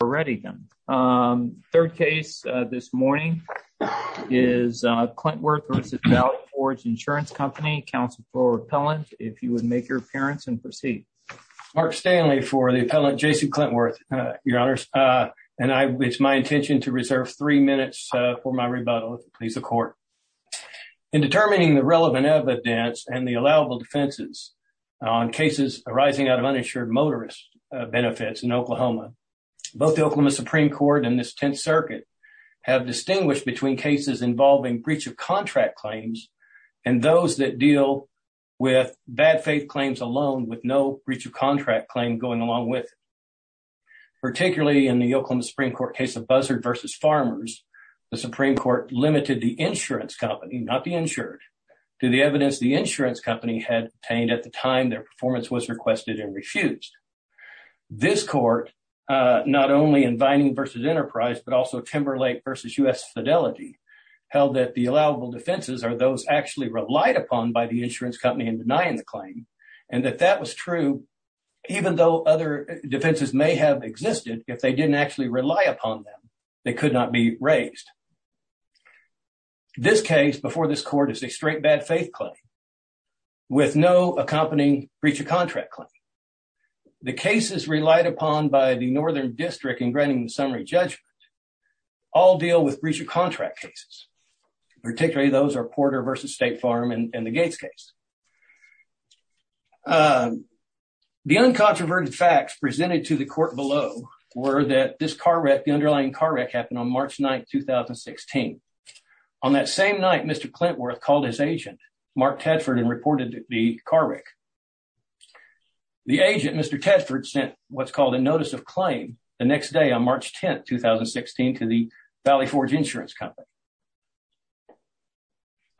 Third case this morning is Clintworth v. Valley Forge Insurance Company. Counsel for the appellant, if you would make your appearance and proceed. Mark Stanley for the appellant, Jason Clintworth, Your Honors. And it's my intention to reserve three minutes for my rebuttal, if it pleases the court. In determining the relevant evidence and the allowable defenses on cases arising out of uninsured motorist benefits in Oklahoma, both the Oklahoma Supreme Court and this Tenth Circuit have distinguished between cases involving breach of contract claims and those that deal with bad faith claims alone, with no breach of contract claim going along with it. Particularly in the Oklahoma Supreme Court case of Buzzard v. Farmers, the Supreme Court limited the insurance company, not the insured, to the evidence the insurance company had obtained at the time their performance was requested and refused. This court, not only in Vining v. Enterprise, but also Timberlake v. U.S. Fidelity, held that the allowable defenses are those actually relied upon by the insurance company in denying the claim, and that that was true even though other defenses may have existed. If they didn't actually rely upon them, they could not be raised. This case before this court is a straight bad faith claim with no accompanying breach of contract claim. The cases relied upon by the Northern District in granting the summary judgment all deal with breach of contract cases. Particularly those are Porter v. State Farm and the Gates case. The uncontroverted facts presented to the court below were that this car wreck, the underlying car wreck, happened on March 9th, 2016. On that same night, Mr. Clintworth called his agent, Mark Tadford, and reported the car wreck. The agent, Mr. Tadford, sent what's called a notice of claim the next day on March 10th, 2016, to the Valley Forge insurance company.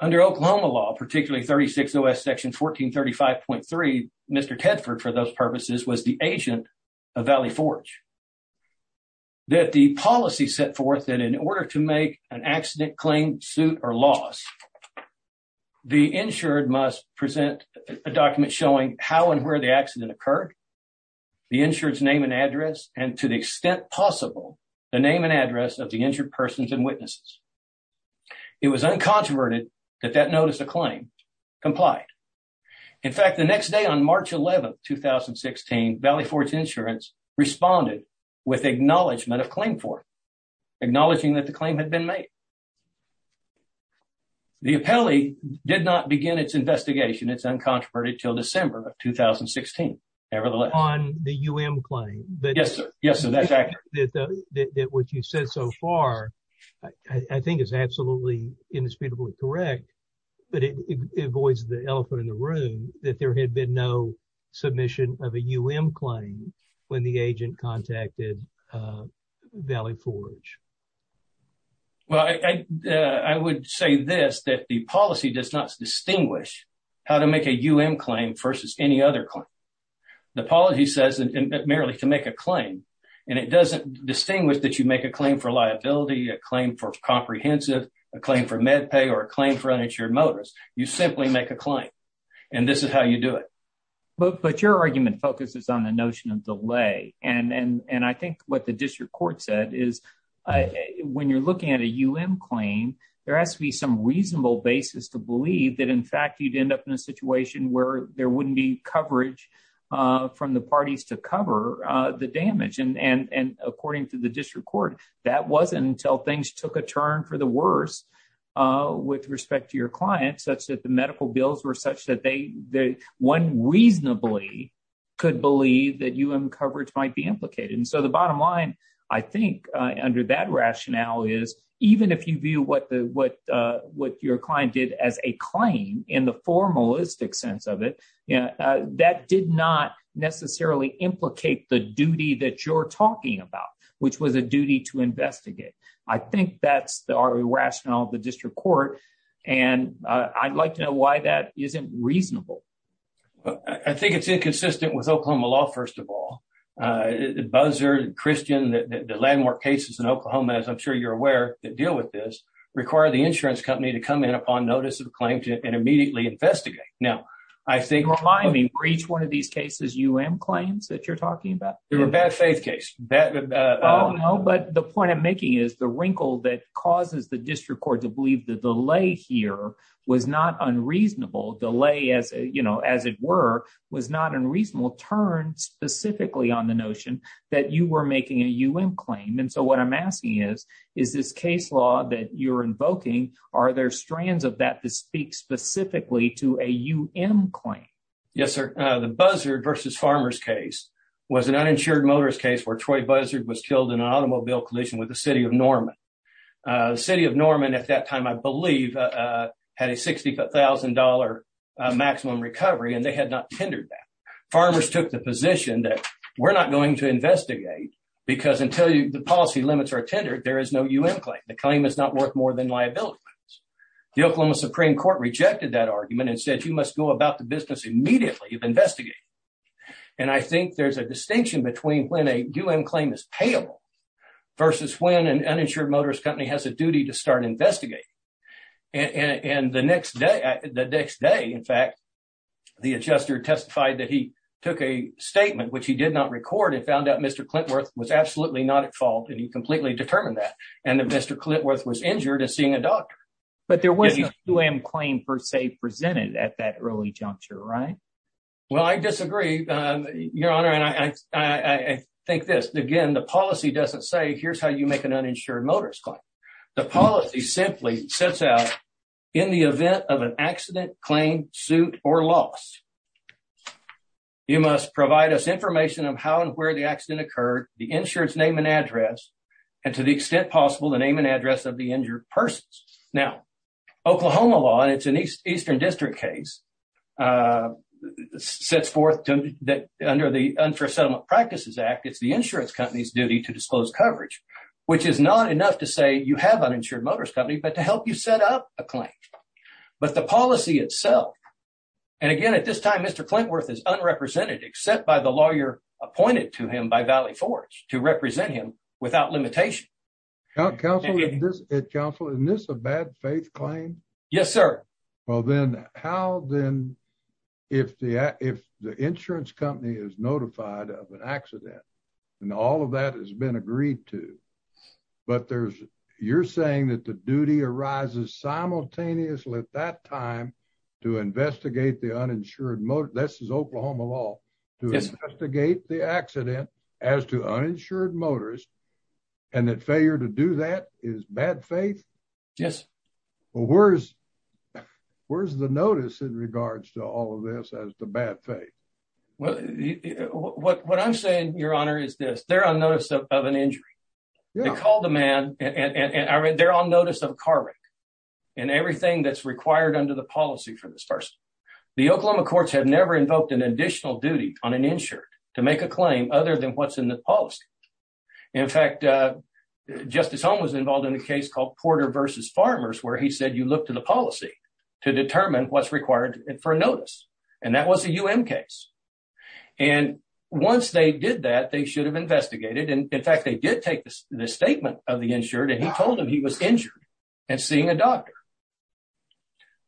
Under Oklahoma law, particularly 36OS section 1435.3, Mr. Tadford, for those purposes, was the agent of Valley Forge. That the policy set forth that in order to make an accident claim, suit, or loss, the insured must present a document showing how and where the accident occurred, the insured's name and address, and to the extent possible, the name and address of the injured persons and witnesses. It was uncontroverted that that notice of claim complied. In fact, the next day on March 11th, 2016, Valley Forge insurance responded with acknowledgement of claim for it, acknowledging that the claim had been made. The appellee did not begin its investigation, it's uncontroverted, until December of 2016, nevertheless. On the UM claim? Yes, sir. Yes, sir, that's accurate. That what you said so far, I think is absolutely, indisputably correct, but it avoids the elephant in the room that there had been no submission of a UM claim when the agent contacted Valley Forge. Well, I would say this, that the policy does not distinguish how to make a UM claim versus any other claim. The policy says merely to make a claim, and it doesn't distinguish that you make a claim for liability, a claim for comprehensive, a claim for med pay, or a claim for uninsured motorist. You simply make a claim, and this is how you do it. But your argument focuses on the notion of delay, and I think what the district court said is when you're looking at a UM claim, there has to be some reasonable basis to believe that, in fact, you'd end up in a situation where there wouldn't be coverage from the parties to cover the damage. And according to the district court, that wasn't until things took a turn for the worse with respect to your clients, such that the medical bills were such that one reasonably could believe that UM coverage might be implicated. And so the bottom line, I think, under that rationale is even if you view what your client did as a claim in the formalistic sense of it, that did not necessarily implicate the duty that you're talking about, which was a duty to investigate. I think that's the rationale of the district court, and I'd like to know why that isn't reasonable. I think it's inconsistent with Oklahoma law, first of all. Buzzer, Christian, the landmark cases in Oklahoma, as I'm sure you're aware, that deal with this, require the insurance company to come in upon notice of a claim and immediately investigate. Now, I think for each one of these cases, UM claims that you're talking about. They're a bad faith case. No, but the point I'm making is the wrinkle that causes the district court to believe the delay here was not unreasonable. Delay, as you know, as it were, was not unreasonable. Turn specifically on the notion that you were making a UM claim. And so what I'm asking is, is this case law that you're invoking, are there strands of that to speak specifically to a UM claim? Yes, sir. The buzzer versus farmer's case was an uninsured motorist case where Troy buzzard was killed in an automobile collision with the city of Norman. The city of Norman at that time, I believe, had a $60,000 maximum recovery and they had not tendered that. Farmers took the position that we're not going to investigate because until the policy limits are tendered, there is no UM claim. The claim is not worth more than liability. The Oklahoma Supreme Court rejected that argument and said, you must go about the business immediately of investigating. And I think there's a distinction between when a UM claim is payable versus when an uninsured motorist company has a duty to start investigating. And the next day, the next day, in fact, the adjuster testified that he took a statement which he did not record and found out Mr. Clitworth was injured as seeing a doctor. But there was no UM claim per se presented at that early juncture, right? Well, I disagree, your honor. And I think this again, the policy doesn't say here's how you make an uninsured motorist claim. The policy simply sets out in the event of an accident, claim, suit or loss. You must provide us information of how and where the accident occurred, the insurance name and address, and to the extent possible, the name and address of the injured persons. Now, Oklahoma law, and it's an Eastern District case, sets forth that under the Unfair Settlement Practices Act, it's the insurance company's duty to disclose coverage, which is not enough to say you have an uninsured motorist company, but to help you set up a claim. But the policy itself, and again, at this time, Mr. Clitworth is unrepresented except by the lawyer appointed to him by Valley Forge to represent him without limitation. Counselor, isn't this a bad faith claim? Yes, sir. Well, then how then if the if the insurance company is notified of an accident and all of that has been agreed to. But there's you're saying that the duty arises simultaneously at that time to investigate the uninsured motorist. This is Oklahoma law to investigate the accident as to uninsured motorist and that failure to do that is bad faith? Yes. Well, where's where's the notice in regards to all of this as the bad faith? Well, what I'm saying, Your Honor, is this they're on notice of an injury. They call the man and they're on notice of a car wreck and everything that's required under the policy for this person. The Oklahoma courts have never invoked an additional duty on an insured to make a claim other than what's in the policy. In fact, Justice Holmes was involved in a case called Porter versus Farmers, where he said you look to the policy to determine what's required for notice. And that was a U.N. case. And once they did that, they should have investigated. And in fact, they did take the statement of the insured and he told him he was injured and seeing a doctor.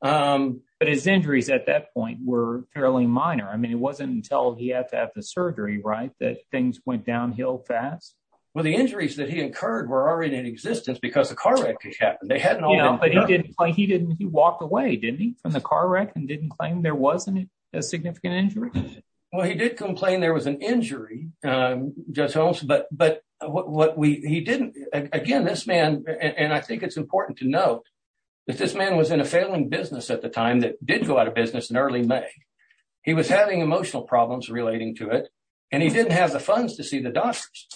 But his injuries at that point were fairly minor. I mean, it wasn't until he had to have the surgery. Right. That things went downhill fast. Well, the injuries that he incurred were already in existence because the car wreck happened. But he didn't he didn't he walked away, didn't he, from the car wreck and didn't claim there wasn't a significant injury. Well, he did complain there was an injury, Judge Holmes, but but what we he didn't again, this man. And I think it's important to note that this man was in a failing business at the time that did go out of business in early May. He was having emotional problems relating to it and he didn't have the funds to see the doctors.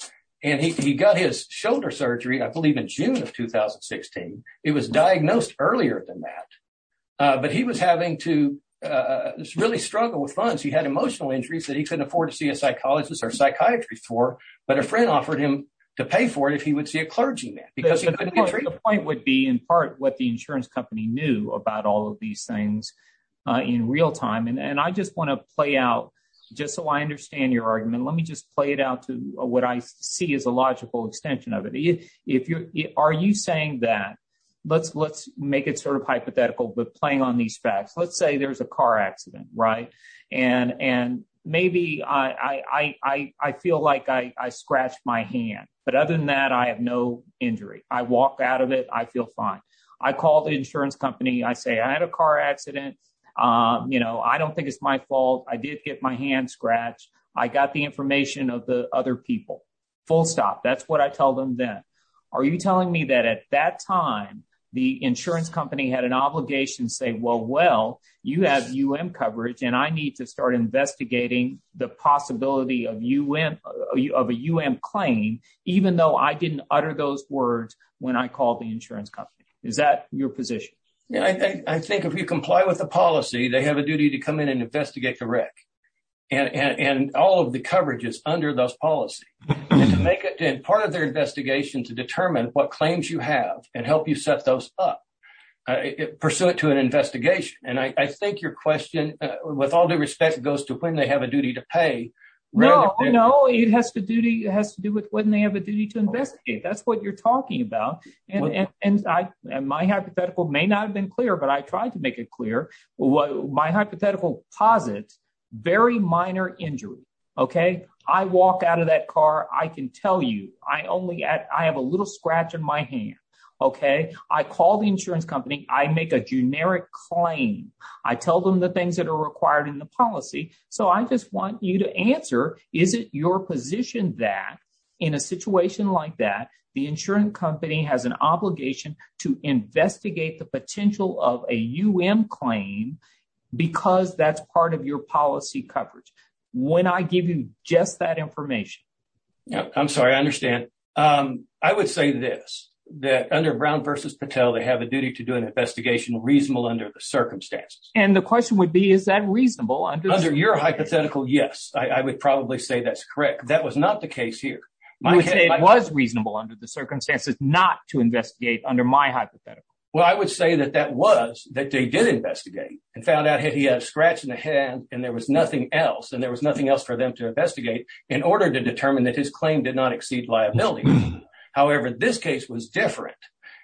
And he got his shoulder surgery, I believe, in June of 2016. It was diagnosed earlier than that. But he was having to really struggle with funds. He had emotional injuries that he couldn't afford to see a psychologist or psychiatry for. But a friend offered him to pay for it if he would see a clergyman because the point would be in part what the insurance company knew about all of these things in real time. And I just want to play out just so I understand your argument. Let me just play it out to what I see is a logical extension of it. If you are you saying that let's let's make it sort of hypothetical, but playing on these facts, let's say there's a car accident. Right. And and maybe I feel like I scratched my hand. But other than that, I have no injury. I walk out of it. I feel fine. I call the insurance company. I say I had a car accident. You know, I don't think it's my fault. I did get my hand scratched. I got the information of the other people. Full stop. That's what I tell them. Then are you telling me that at that time, the insurance company had an obligation? Say, well, well, you have U.N. coverage and I need to start investigating the possibility of U.N. of a U.N. claim, even though I didn't utter those words when I called the insurance company. Is that your position? I think if you comply with the policy, they have a duty to come in and investigate the wreck. And all of the coverage is under those policies to make it part of their investigation to determine what claims you have and help you set those up, pursue it to an investigation. And I think your question, with all due respect, goes to when they have a duty to pay. No, no. It has to duty. It has to do with when they have a duty to investigate. That's what you're talking about. And my hypothetical may not have been clear, but I tried to make it clear. Well, my hypothetical posit very minor injury. OK, I walk out of that car. I can tell you I only I have a little scratch on my hand. OK, I call the insurance company. I make a generic claim. I tell them the things that are required in the policy. So I just want you to answer. Is it your position that in a situation like that, the insurance company has an obligation to investigate the potential of a claim because that's part of your policy coverage? When I give you just that information, I'm sorry, I understand. I would say this, that under Brown versus Patel, they have a duty to do an investigation reasonable under the circumstances. And the question would be, is that reasonable under your hypothetical? Yes, I would probably say that's correct. That was not the case here. It was reasonable under the circumstances not to investigate under my hypothetical. Well, I would say that that was that they did investigate and found out he had a scratch in the hand and there was nothing else. And there was nothing else for them to investigate in order to determine that his claim did not exceed liability. However, this case was different.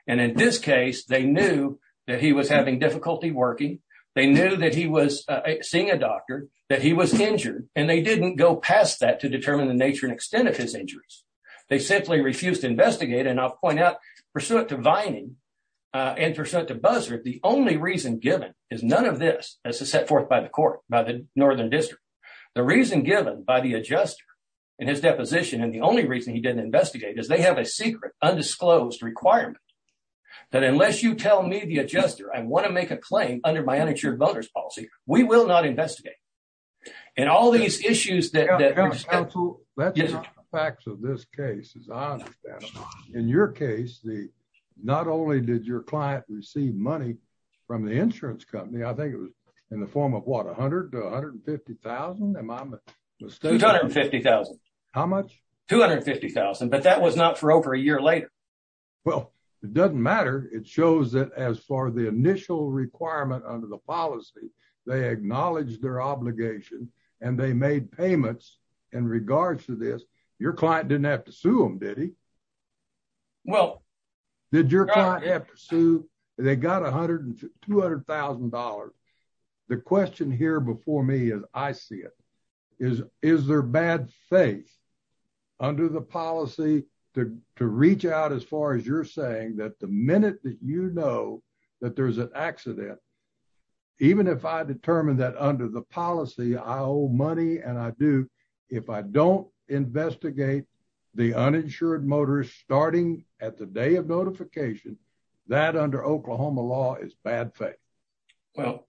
And in this case, they knew that he was having difficulty working. They knew that he was seeing a doctor, that he was injured, and they didn't go past that to determine the nature and extent of his injuries. They simply refused to investigate. And I'll point out, pursuant to Vining and pursuant to Buzzard, the only reason given is none of this as set forth by the court, by the Northern District. The reason given by the adjuster in his deposition and the only reason he didn't investigate is they have a secret undisclosed requirement that unless you tell me the adjuster, I want to make a claim under my uninsured voters policy. We will not investigate. And all these issues that. The facts of this case, as I understand it, in your case, the not only did your client receive money from the insurance company, I think it was in the form of what, one hundred to one hundred and fifty thousand. Fifty thousand. How much? Two hundred fifty thousand. But that was not for over a year later. Well, it doesn't matter. It shows that as far the initial requirement under the policy, they acknowledge their obligation and they made payments in regards to this. Your client didn't have to sue him, did he? Well, did your client have to sue? They got one hundred and two hundred thousand dollars. The question here before me is I see it is, is there bad faith under the policy to to reach out as far as you're saying that the minute that you know that there's an accident, even if I determine that under the policy, I owe money and I do, if I don't investigate the uninsured motorist starting at the day of notification that under Oklahoma law is bad faith. Well,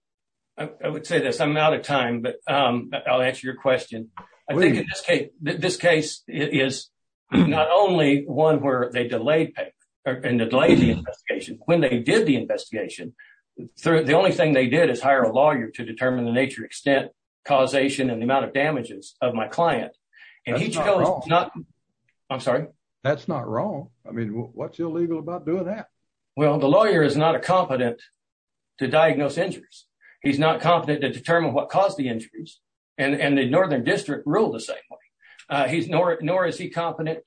I would say this. I'm out of time, but I'll answer your question. I think in this case, this case is not only one where they delayed and delayed the investigation when they did the investigation. The only thing they did is hire a lawyer to determine the nature, extent, causation and the amount of damages of my client. And he's not. I'm sorry. That's not wrong. I mean, what's illegal about doing that? Well, the lawyer is not a competent to diagnose injuries. He's not competent to determine what caused the injuries. And the northern district ruled the same way he's nor nor is he competent.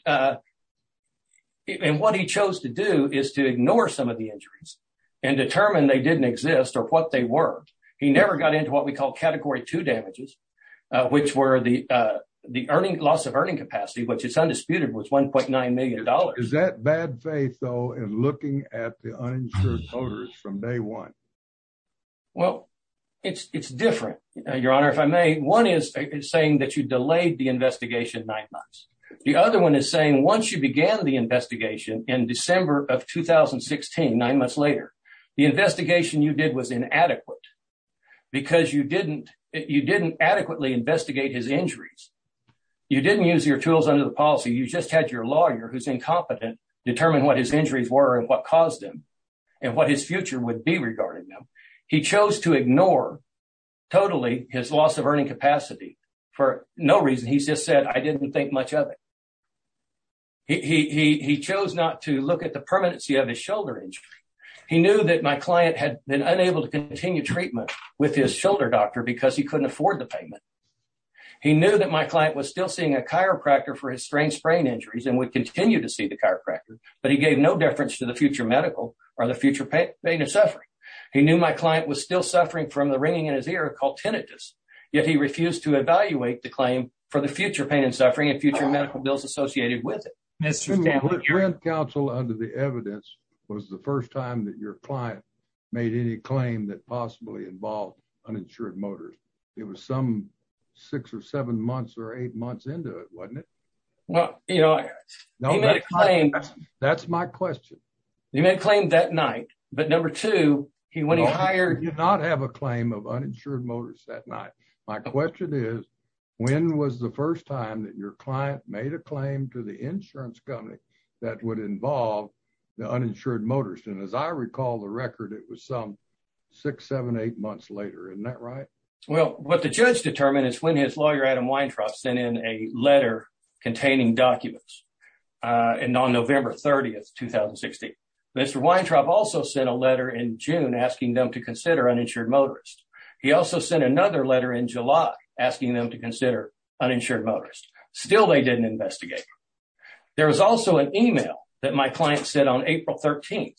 And what he chose to do is to ignore some of the injuries and determine they didn't exist or what they were. He never got into what we call category two damages, which were the the earning loss of earning capacity, which is undisputed, was one point nine million dollars. Is that bad faith, though, in looking at the uninsured voters from day one? Well, it's it's different, Your Honor, if I may. One is saying that you delayed the investigation nine months. The other one is saying once you began the investigation in December of 2016, nine months later, the investigation you did was inadequate because you didn't you didn't adequately investigate his injuries. You didn't use your tools under the policy. You just had your lawyer who's incompetent determine what his injuries were and what caused them and what his future would be regarding them. He chose to ignore totally his loss of earning capacity for no reason. He's just said, I didn't think much of it. He chose not to look at the permanency of his shoulder injury. He knew that my client had been unable to continue treatment with his shoulder doctor because he couldn't afford the payment. He knew that my client was still seeing a chiropractor for his strange sprain injuries and would continue to see the chiropractor. But he gave no deference to the future medical or the future pain and suffering. He knew my client was still suffering from the ringing in his ear called tinnitus. Yet he refused to evaluate the claim for the future pain and suffering and future medical bills associated with it. Council under the evidence was the first time that your client made any claim that possibly involved uninsured motors. It was some six or seven months or eight months into it, wasn't it? Well, you know, that's my question. You may claim that night, but number two, he when he hired you not have a claim of uninsured motors that night. My question is, when was the first time that your client made a claim to the insurance company that would involve the uninsured motors? And as I recall, the record, it was some six, seven, eight months later. Isn't that right? Well, what the judge determined is when his lawyer, Adam Weintraub, sent in a letter containing documents and on November 30th, 2016. Mr. Weintraub also sent a letter in June asking them to consider uninsured motors. He also sent another letter in July asking them to consider uninsured motors. Still, they didn't investigate. There was also an email that my client sent on April 13th.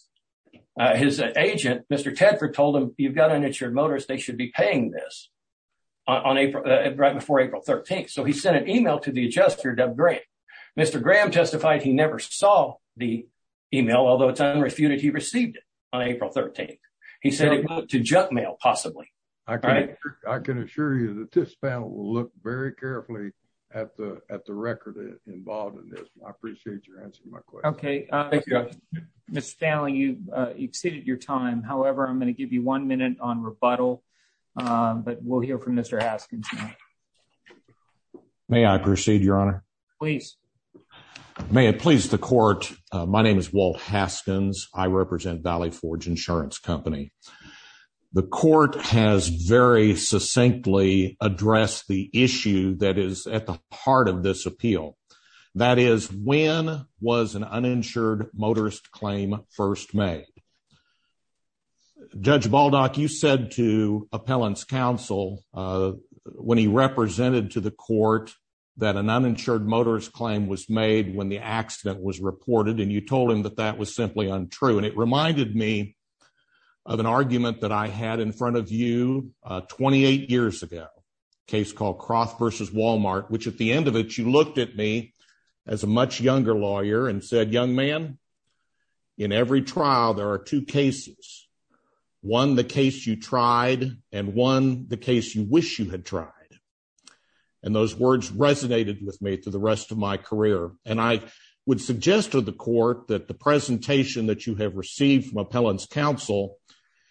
His agent, Mr. Tedford, told him, you've got an insured motors. They should be paying this on April right before April 13th. So he sent an email to the adjuster, Doug Graham. Mr. Graham testified he never saw the email, although it's unrefuted. He received it on April 13th. He said it went to junk mail possibly. I can assure you that this panel will look very carefully at the record involved in this. I appreciate your answer to my question. Okay. Thank you. Mr. Stanley, you've exceeded your time. However, I'm going to give you one minute on rebuttal, but we'll hear from Mr. Haskins now. May I proceed, Your Honor? Please. May it please the court. My name is Walt Haskins. I represent Valley Forge Insurance Company. The court has very succinctly addressed the issue that is at the heart of this appeal. That is, when was an uninsured motorist claim first made? Judge Baldock, you said to appellant's counsel when he represented to the court that an uninsured motorist claim was made when the accident was reported, and you told him that that was simply untrue. And it reminded me of an argument that I had in front of you 28 years ago, a case called Croft v. Walmart, which at the end of it you looked at me as a much younger lawyer and said, young man, in every trial there are two cases, one the case you tried and one the case you wish you had tried. And those words resonated with me through the rest of my career. And I would suggest to the court that the presentation that you have received from appellant's counsel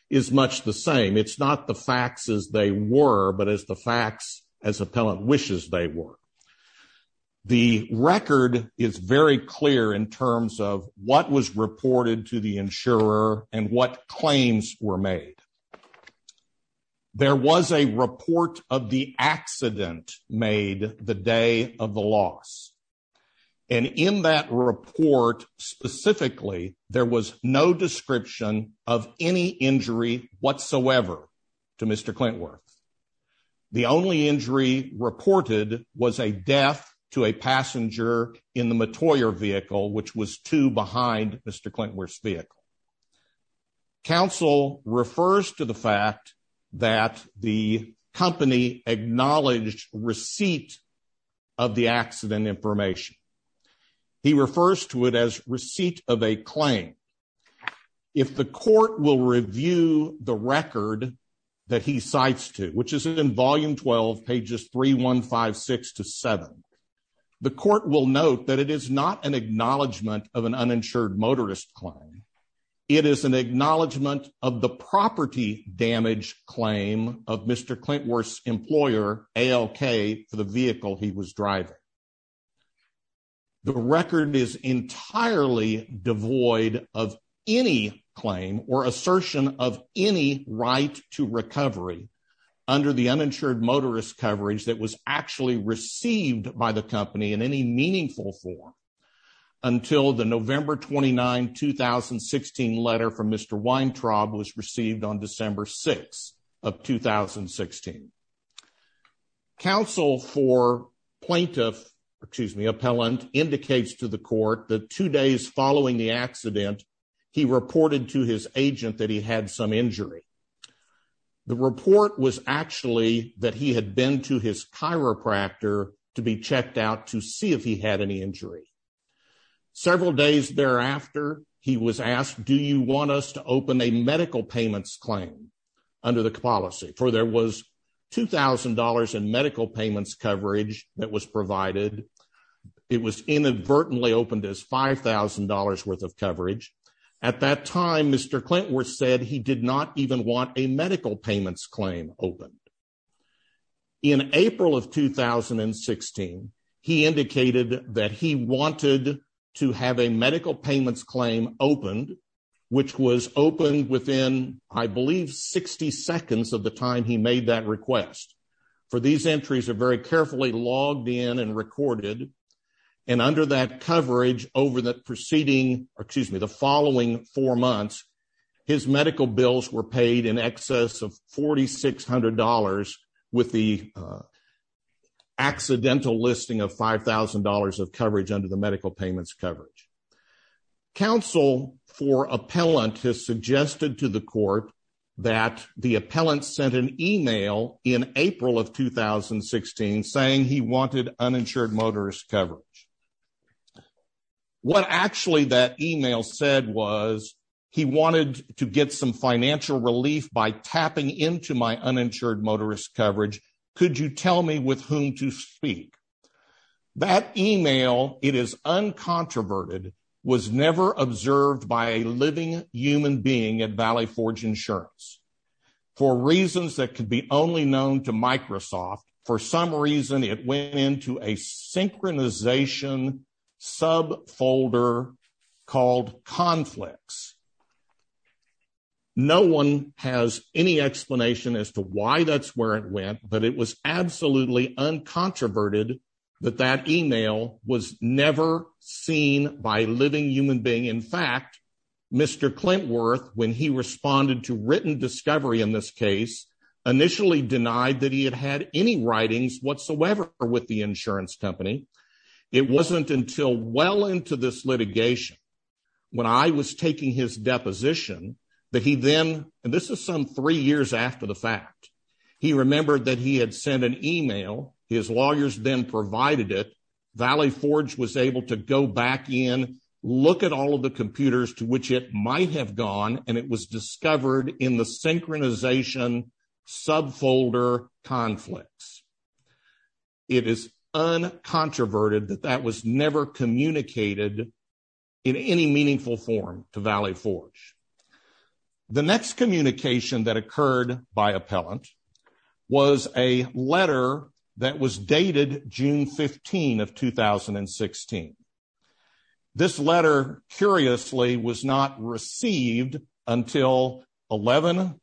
is much the same. It's not the facts as they were, but as the facts as appellant wishes they were. The record is very clear in terms of what was reported to the insurer and what claims were made. There was a report of the accident made the day of the loss. And in that report specifically, there was no description of any injury whatsoever to Mr. Clintworth. The only injury reported was a death to a passenger in the Mottoyer vehicle, which was two behind Mr. Clintworth's vehicle. Counsel refers to the fact that the company acknowledged receipt of the accident information. He refers to it as receipt of a claim. If the court will review the record that he cites to, which is in volume 12, pages 3156 to 7, the court will note that it is not an acknowledgment of an uninsured motorist claim. It is an acknowledgment of the property damage claim of Mr. Clintworth's employer, ALK, for the vehicle he was driving. The record is entirely devoid of any claim or assertion of any right to recovery under the uninsured motorist coverage that was actually received by the company in any meaningful form until the November 29, 2016 letter from Mr. Weintraub was received on December 6 of 2016. Counsel for plaintiff, excuse me, appellant, indicates to the court that two days following the accident, he reported to his agent that he had some injury. The report was actually that he had been to his chiropractor to be checked out to see if he had any injury. Several days thereafter, he was asked, do you want us to open a medical payments claim under the policy? For there was $2,000 in medical payments coverage that was provided. It was inadvertently opened as $5,000 worth of coverage. At that time, Mr. Clintworth said he did not even want a medical payments claim opened. In April of 2016, he indicated that he wanted to have a medical payments claim opened, which was opened within, I believe, 60 seconds of the time he made that request. For these entries are very carefully logged in and recorded. And under that coverage over the preceding, or excuse me, the following four months, his medical bills were paid in excess of $4,600 with the accidental listing of $5,000 of coverage under the medical payments coverage. Counsel for appellant has suggested to the court that the appellant sent an email in April of 2016 saying he wanted uninsured motorist coverage. What actually that email said was he wanted to get some financial relief by tapping into my uninsured motorist coverage. Could you tell me with whom to speak? That email, it is uncontroverted, was never observed by a living human being at Valley Forge Insurance. For reasons that could be only known to Microsoft, for some reason, it went into a synchronization subfolder called conflicts. No one has any explanation as to why that's where it went, but it was absolutely uncontroverted that that email was never seen by living human being. In fact, Mr. Clintworth, when he responded to written discovery in this case, initially denied that he had had any writings whatsoever with the insurance company. It wasn't until well into this litigation when I was taking his deposition that he then, and this is some three years after the fact, he remembered that he had sent an email. His lawyers then provided it. Valley Forge was able to go back in, look at all of the computers to which it might have gone, and it was discovered in the synchronization subfolder conflicts. It is uncontroverted that that was never communicated in any meaningful form to Valley Forge. The next communication that occurred by appellant was a letter that was dated June 15 of 2016. This letter, curiously, was not received until 11,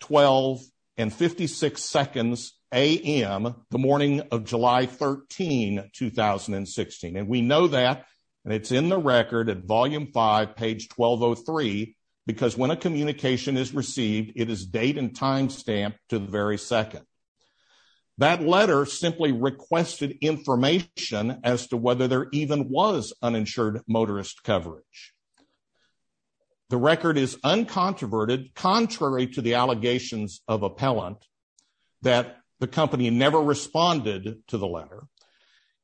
12, and 56 seconds a.m. the morning of July 13, 2016. And we know that, and it's in the record at volume five, page 1203, because when a communication is received, it is date and time stamped to the very second. That letter simply requested information as to whether there even was uninsured motorist coverage. The record is uncontroverted, contrary to the allegations of appellant, that the company never responded to the letter.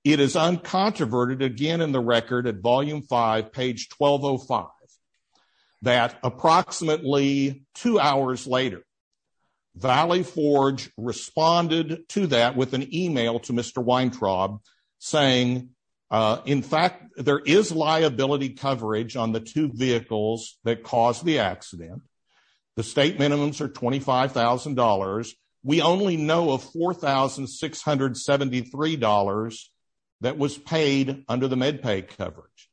It is uncontroverted, again in the record at volume five, page 1205, that approximately two hours later, Valley Forge responded to that with an email to Mr. Weintraub saying, In fact, there is liability coverage on the two vehicles that caused the accident. The state minimums are $25,000. We only know of $4,673 that was paid under the MedPay coverage.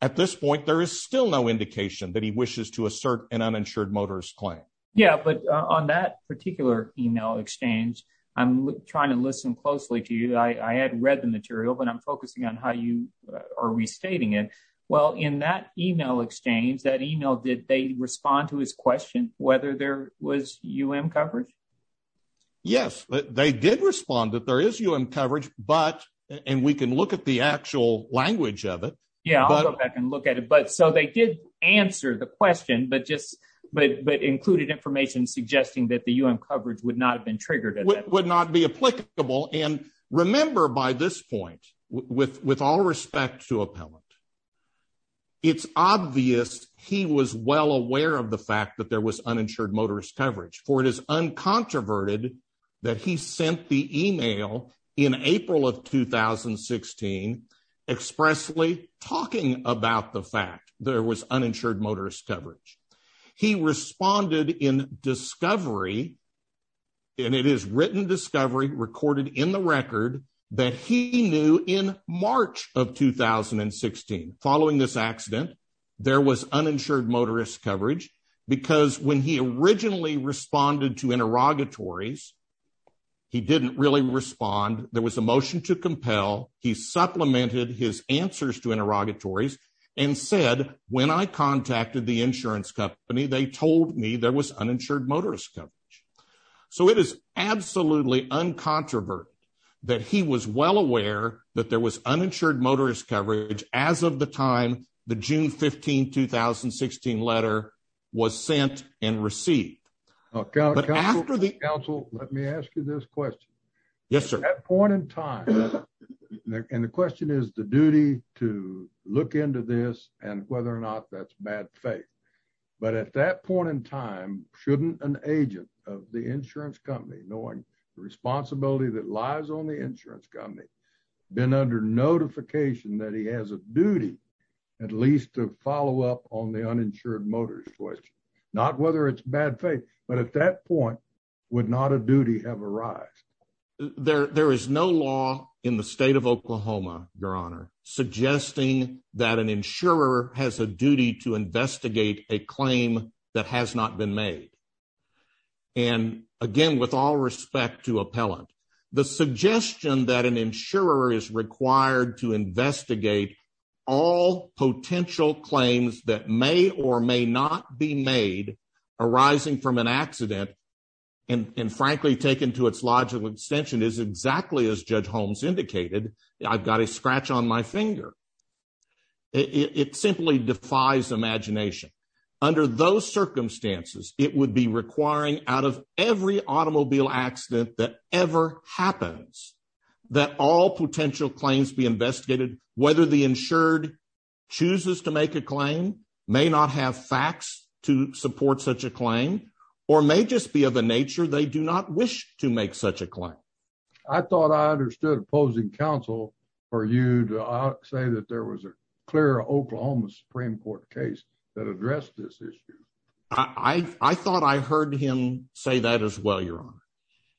At this point, there is still no indication that he wishes to assert an uninsured motorist claim. Yeah, but on that particular email exchange, I'm trying to listen closely to you. I had read the material, but I'm focusing on how you are restating it. Well, in that email exchange, that email, did they respond to his question, whether there was UM coverage? Yes, they did respond that there is UM coverage, but, and we can look at the actual language of it. Yeah, I'll go back and look at it. But so they did answer the question, but just, but included information suggesting that the UM coverage would not have been triggered. Would not be applicable. And remember by this point, with all respect to appellant, It's obvious he was well aware of the fact that there was uninsured motorist coverage for it is uncontroverted that he sent the email in April of 2016 expressly talking about the fact there was uninsured motorist coverage. He responded in discovery. And it is written discovery recorded in the record that he knew in March of 2016 following this accident, there was uninsured motorist coverage, because when he originally responded to interrogatories. He didn't really respond. There was a motion to compel. He supplemented his answers to interrogatories and said, when I contacted the insurance company, they told me there was uninsured motorist coverage. So it is absolutely uncontroverted that he was well aware that there was uninsured motorist coverage. As of the time, the June 15, 2016 letter was sent and received. Council, let me ask you this question. Yes, sir. At that point in time, and the question is the duty to look into this and whether or not that's bad faith. But at that point in time, shouldn't an agent of the insurance company, knowing the responsibility that lies on the insurance company, been under notification that he has a duty. At least to follow up on the uninsured motorist, not whether it's bad faith, but at that point, would not a duty have arise. There is no law in the state of Oklahoma, Your Honor, suggesting that an insurer has a duty to investigate a claim that has not been made. And again, with all respect to appellant, the suggestion that an insurer is required to investigate all potential claims that may or may not be made arising from an accident. And frankly, taken to its logical extension is exactly as Judge Holmes indicated. I've got a scratch on my finger. It simply defies imagination. Under those circumstances, it would be requiring out of every automobile accident that ever happens, that all potential claims be investigated. Whether the insured chooses to make a claim, may not have facts to support such a claim, or may just be of a nature they do not wish to make such a claim. I thought I understood opposing counsel for you to say that there was a clear Oklahoma Supreme Court case that addressed this issue. I thought I heard him say that as well, Your Honor.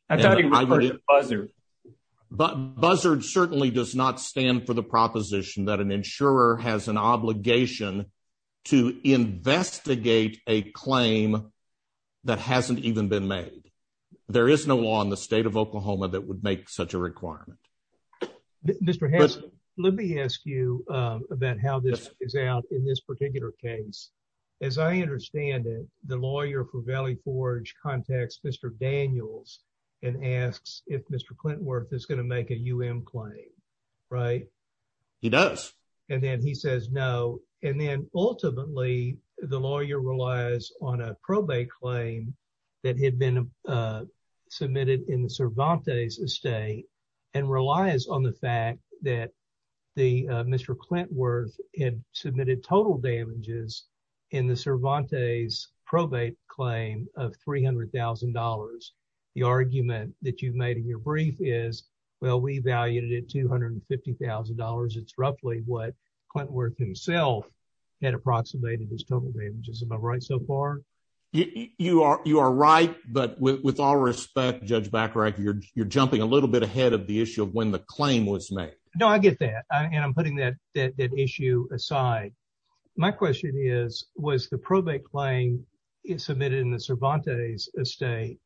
I thought he referred to Buzzard. Buzzard certainly does not stand for the proposition that an insurer has an obligation to investigate a claim that hasn't even been made. There is no law in the state of Oklahoma that would make such a requirement. Mr. Hess, let me ask you about how this is out in this particular case. As I understand it, the lawyer for Valley Forge contacts Mr. Daniels and asks if Mr. Clintworth is going to make a U.M. claim, right? He does. And then he says no. And then ultimately, the lawyer relies on a probate claim that had been submitted in the Cervantes estate and relies on the fact that Mr. Clintworth had submitted total damages in the Cervantes probate claim of $300,000. The argument that you've made in your brief is, well, we valued it at $250,000. It's roughly what Clintworth himself had approximated as total damages. Am I right so far? You are right. But with all respect, Judge Bacharach, you're jumping a little bit ahead of the issue of when the claim was made. No, I get that. And I'm putting that issue aside. My question is, was the probate claim submitted in the Cervantes estate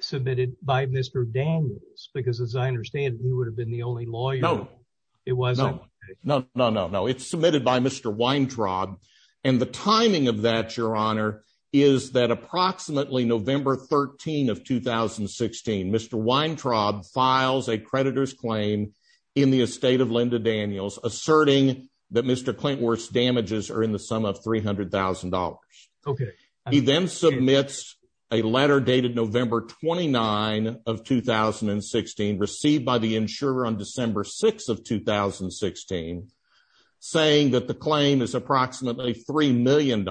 submitted by Mr. Daniels? Because as I understand it, he would have been the only lawyer. No. It wasn't? No, no, no, no. It's submitted by Mr. Weintraub. And the timing of that, Your Honor, is that approximately November 13 of 2016, Mr. Weintraub files a creditor's claim in the estate of Linda Daniels, asserting that Mr. Clintworth's damages are in the sum of $300,000. Okay. He then submits a letter dated November 29 of 2016, received by the insurer on December 6 of 2016, saying that the claim is approximately $3 million.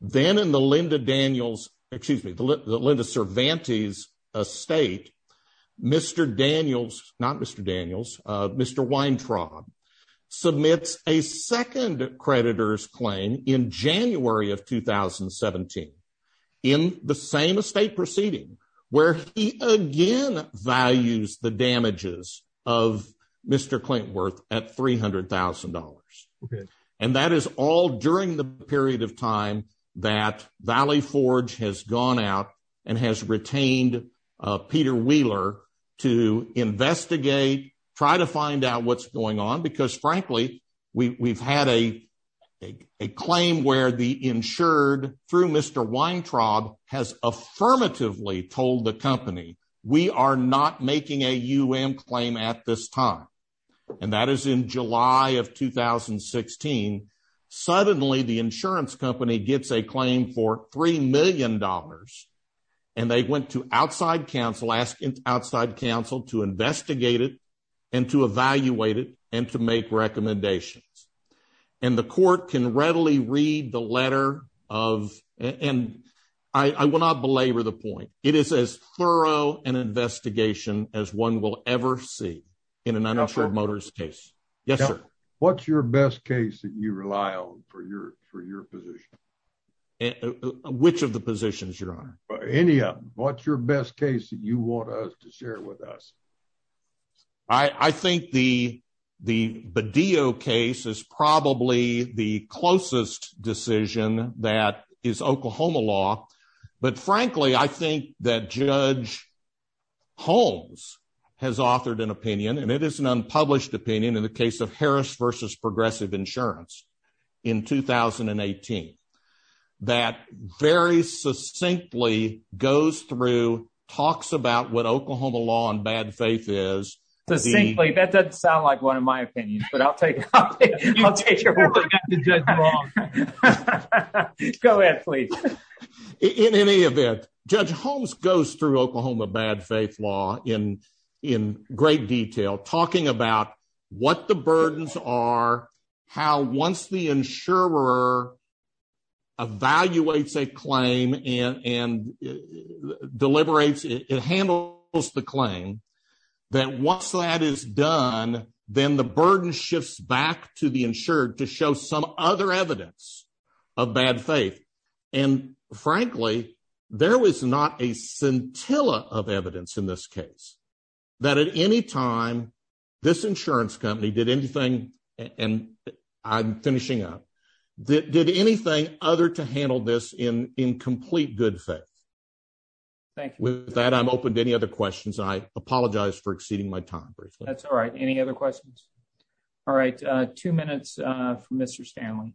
Then in the Linda Daniels – excuse me, the Linda Cervantes estate, Mr. Daniels – not Mr. Daniels – Mr. Weintraub submits a second creditor's claim in January of 2017 in the same estate proceeding, where he again values the damages of Mr. Clintworth at $300,000. Okay. And that is all during the period of time that Valley Forge has gone out and has retained Peter Wheeler to investigate, try to find out what's going on, because frankly, we've had a claim where the insured, through Mr. Weintraub, has affirmatively told the company, we are not making a U.M. claim at this time. And that is in July of 2016. Suddenly, the insurance company gets a claim for $3 million, and they went to outside counsel, asking outside counsel to investigate it and to evaluate it and to make recommendations. And the court can readily read the letter of – and I will not belabor the point. It is as thorough an investigation as one will ever see in an uninsured motorist case. Yes, sir. What's your best case that you rely on for your position? Which of the positions, Your Honor? Any of them. What's your best case that you want us to share with us? I think the Badillo case is probably the closest decision that is Oklahoma law. But frankly, I think that Judge Holmes has authored an opinion, and it is an unpublished opinion in the case of Harris v. Progressive Insurance in 2018, that very succinctly goes through, talks about what Oklahoma law and bad faith is. Succinctly? That doesn't sound like one of my opinions, but I'll take your word for it. In any event, Judge Holmes goes through Oklahoma bad faith law in great detail, talking about what the burdens are, how once the insurer evaluates a claim and deliberates, it handles the claim, that once that is done, then the burden shifts back to the insured to show some other evidence of bad faith. And frankly, there was not a scintilla of evidence in this case that at any time this insurance company did anything, and I'm finishing up, that did anything other to handle this in complete good faith. Thank you. With that, I'm open to any other questions. I apologize for exceeding my time briefly. That's all right. Any other questions? All right. Two minutes for Mr. Stanley.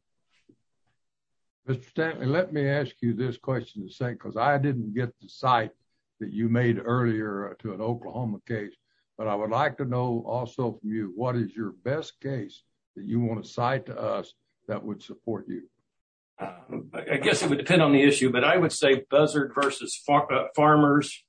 Mr. Stanley, let me ask you this question, because I didn't get the cite that you made earlier to an Oklahoma case, but I would like to know also from you, what is your best case that you want to cite to us that would support you? I guess it would depend on the issue, but I would say Buzzard v. Farmers,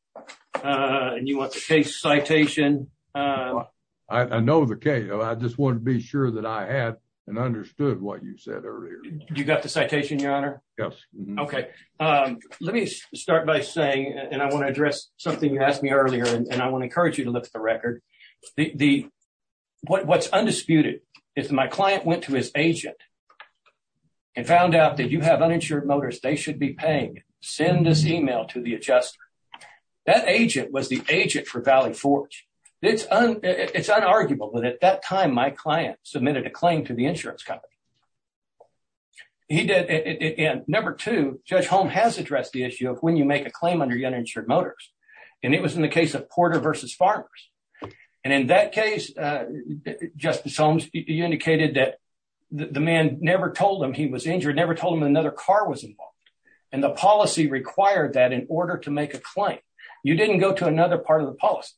and you want the case citation. I know the case. I just wanted to be sure that I had and understood what you said earlier. You got the citation, Your Honor? Yes. Okay. Let me start by saying, and I want to address something you asked me earlier, and I want to encourage you to look at the record. What's undisputed is that my client went to his agent and found out that you have uninsured motors. They should be paying. Send this email to the adjuster. That agent was the agent for Valley Forge. It's unarguable that at that time, my client submitted a claim to the insurance company. Number two, Judge Holmes has addressed the issue of when you make a claim under uninsured motors, and it was in the case of Porter v. Farmers. In that case, Justice Holmes, you indicated that the man never told him he was injured, never told him another car was involved, and the policy required that in order to make a claim. You didn't go to another part of the policy.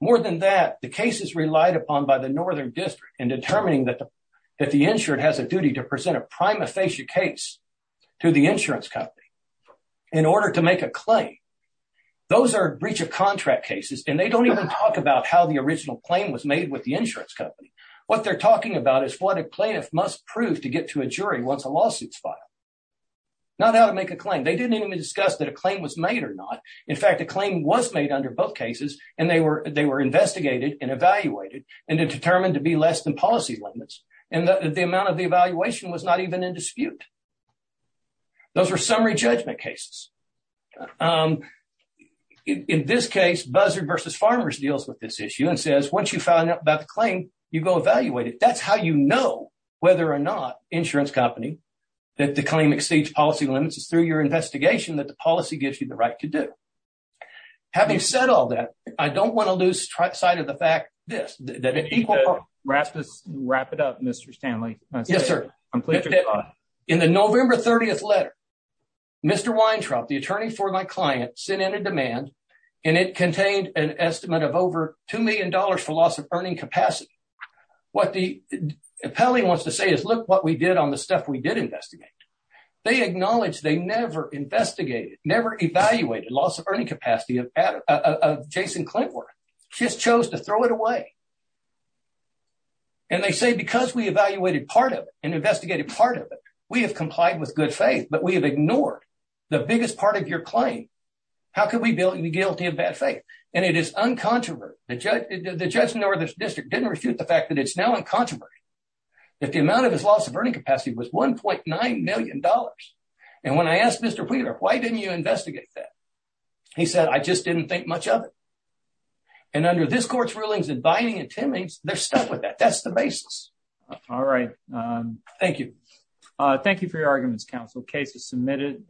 More than that, the case is relied upon by the Northern District in determining that the insured has a duty to present a prima facie case to the insurance company in order to make a claim. Those are breach of contract cases, and they don't even talk about how the original claim was made with the insurance company. What they're talking about is what a plaintiff must prove to get to a jury once a lawsuit is filed, not how to make a claim. They didn't even discuss that a claim was made or not. In fact, a claim was made under both cases, and they were investigated and evaluated and determined to be less than policy limits. And the amount of the evaluation was not even in dispute. Those are summary judgment cases. In this case, Buzzard v. Farmers deals with this issue and says, once you find out about the claim, you go evaluate it. That's how you know whether or not insurance company that the claim exceeds policy limits is through your investigation that the policy gives you the right to do. Having said all that, I don't want to lose sight of the fact this. Wrap it up, Mr. Stanley. Yes, sir. In the November 30th letter, Mr. Weintraub, the attorney for my client, sent in a demand, and it contained an estimate of over $2 million for loss of earning capacity. What the appellee wants to say is, look what we did on the stuff we did investigate. They acknowledge they never investigated, never evaluated loss of earning capacity of Jason Clintworth. Just chose to throw it away. And they say because we evaluated part of it and investigated part of it, we have complied with good faith, but we have ignored the biggest part of your claim. How could we be guilty of bad faith? And it is uncontroversial. The judge in the northern district didn't refute the fact that it's now uncontroversial. That the amount of his loss of earning capacity was $1.9 million. And when I asked Mr. Wheeler, why didn't you investigate that? He said, I just didn't think much of it. And under this court's rulings and binding and timings, they're stuck with that. That's the basis. All right. Thank you. Thank you for your arguments, counsel. Case is submitted.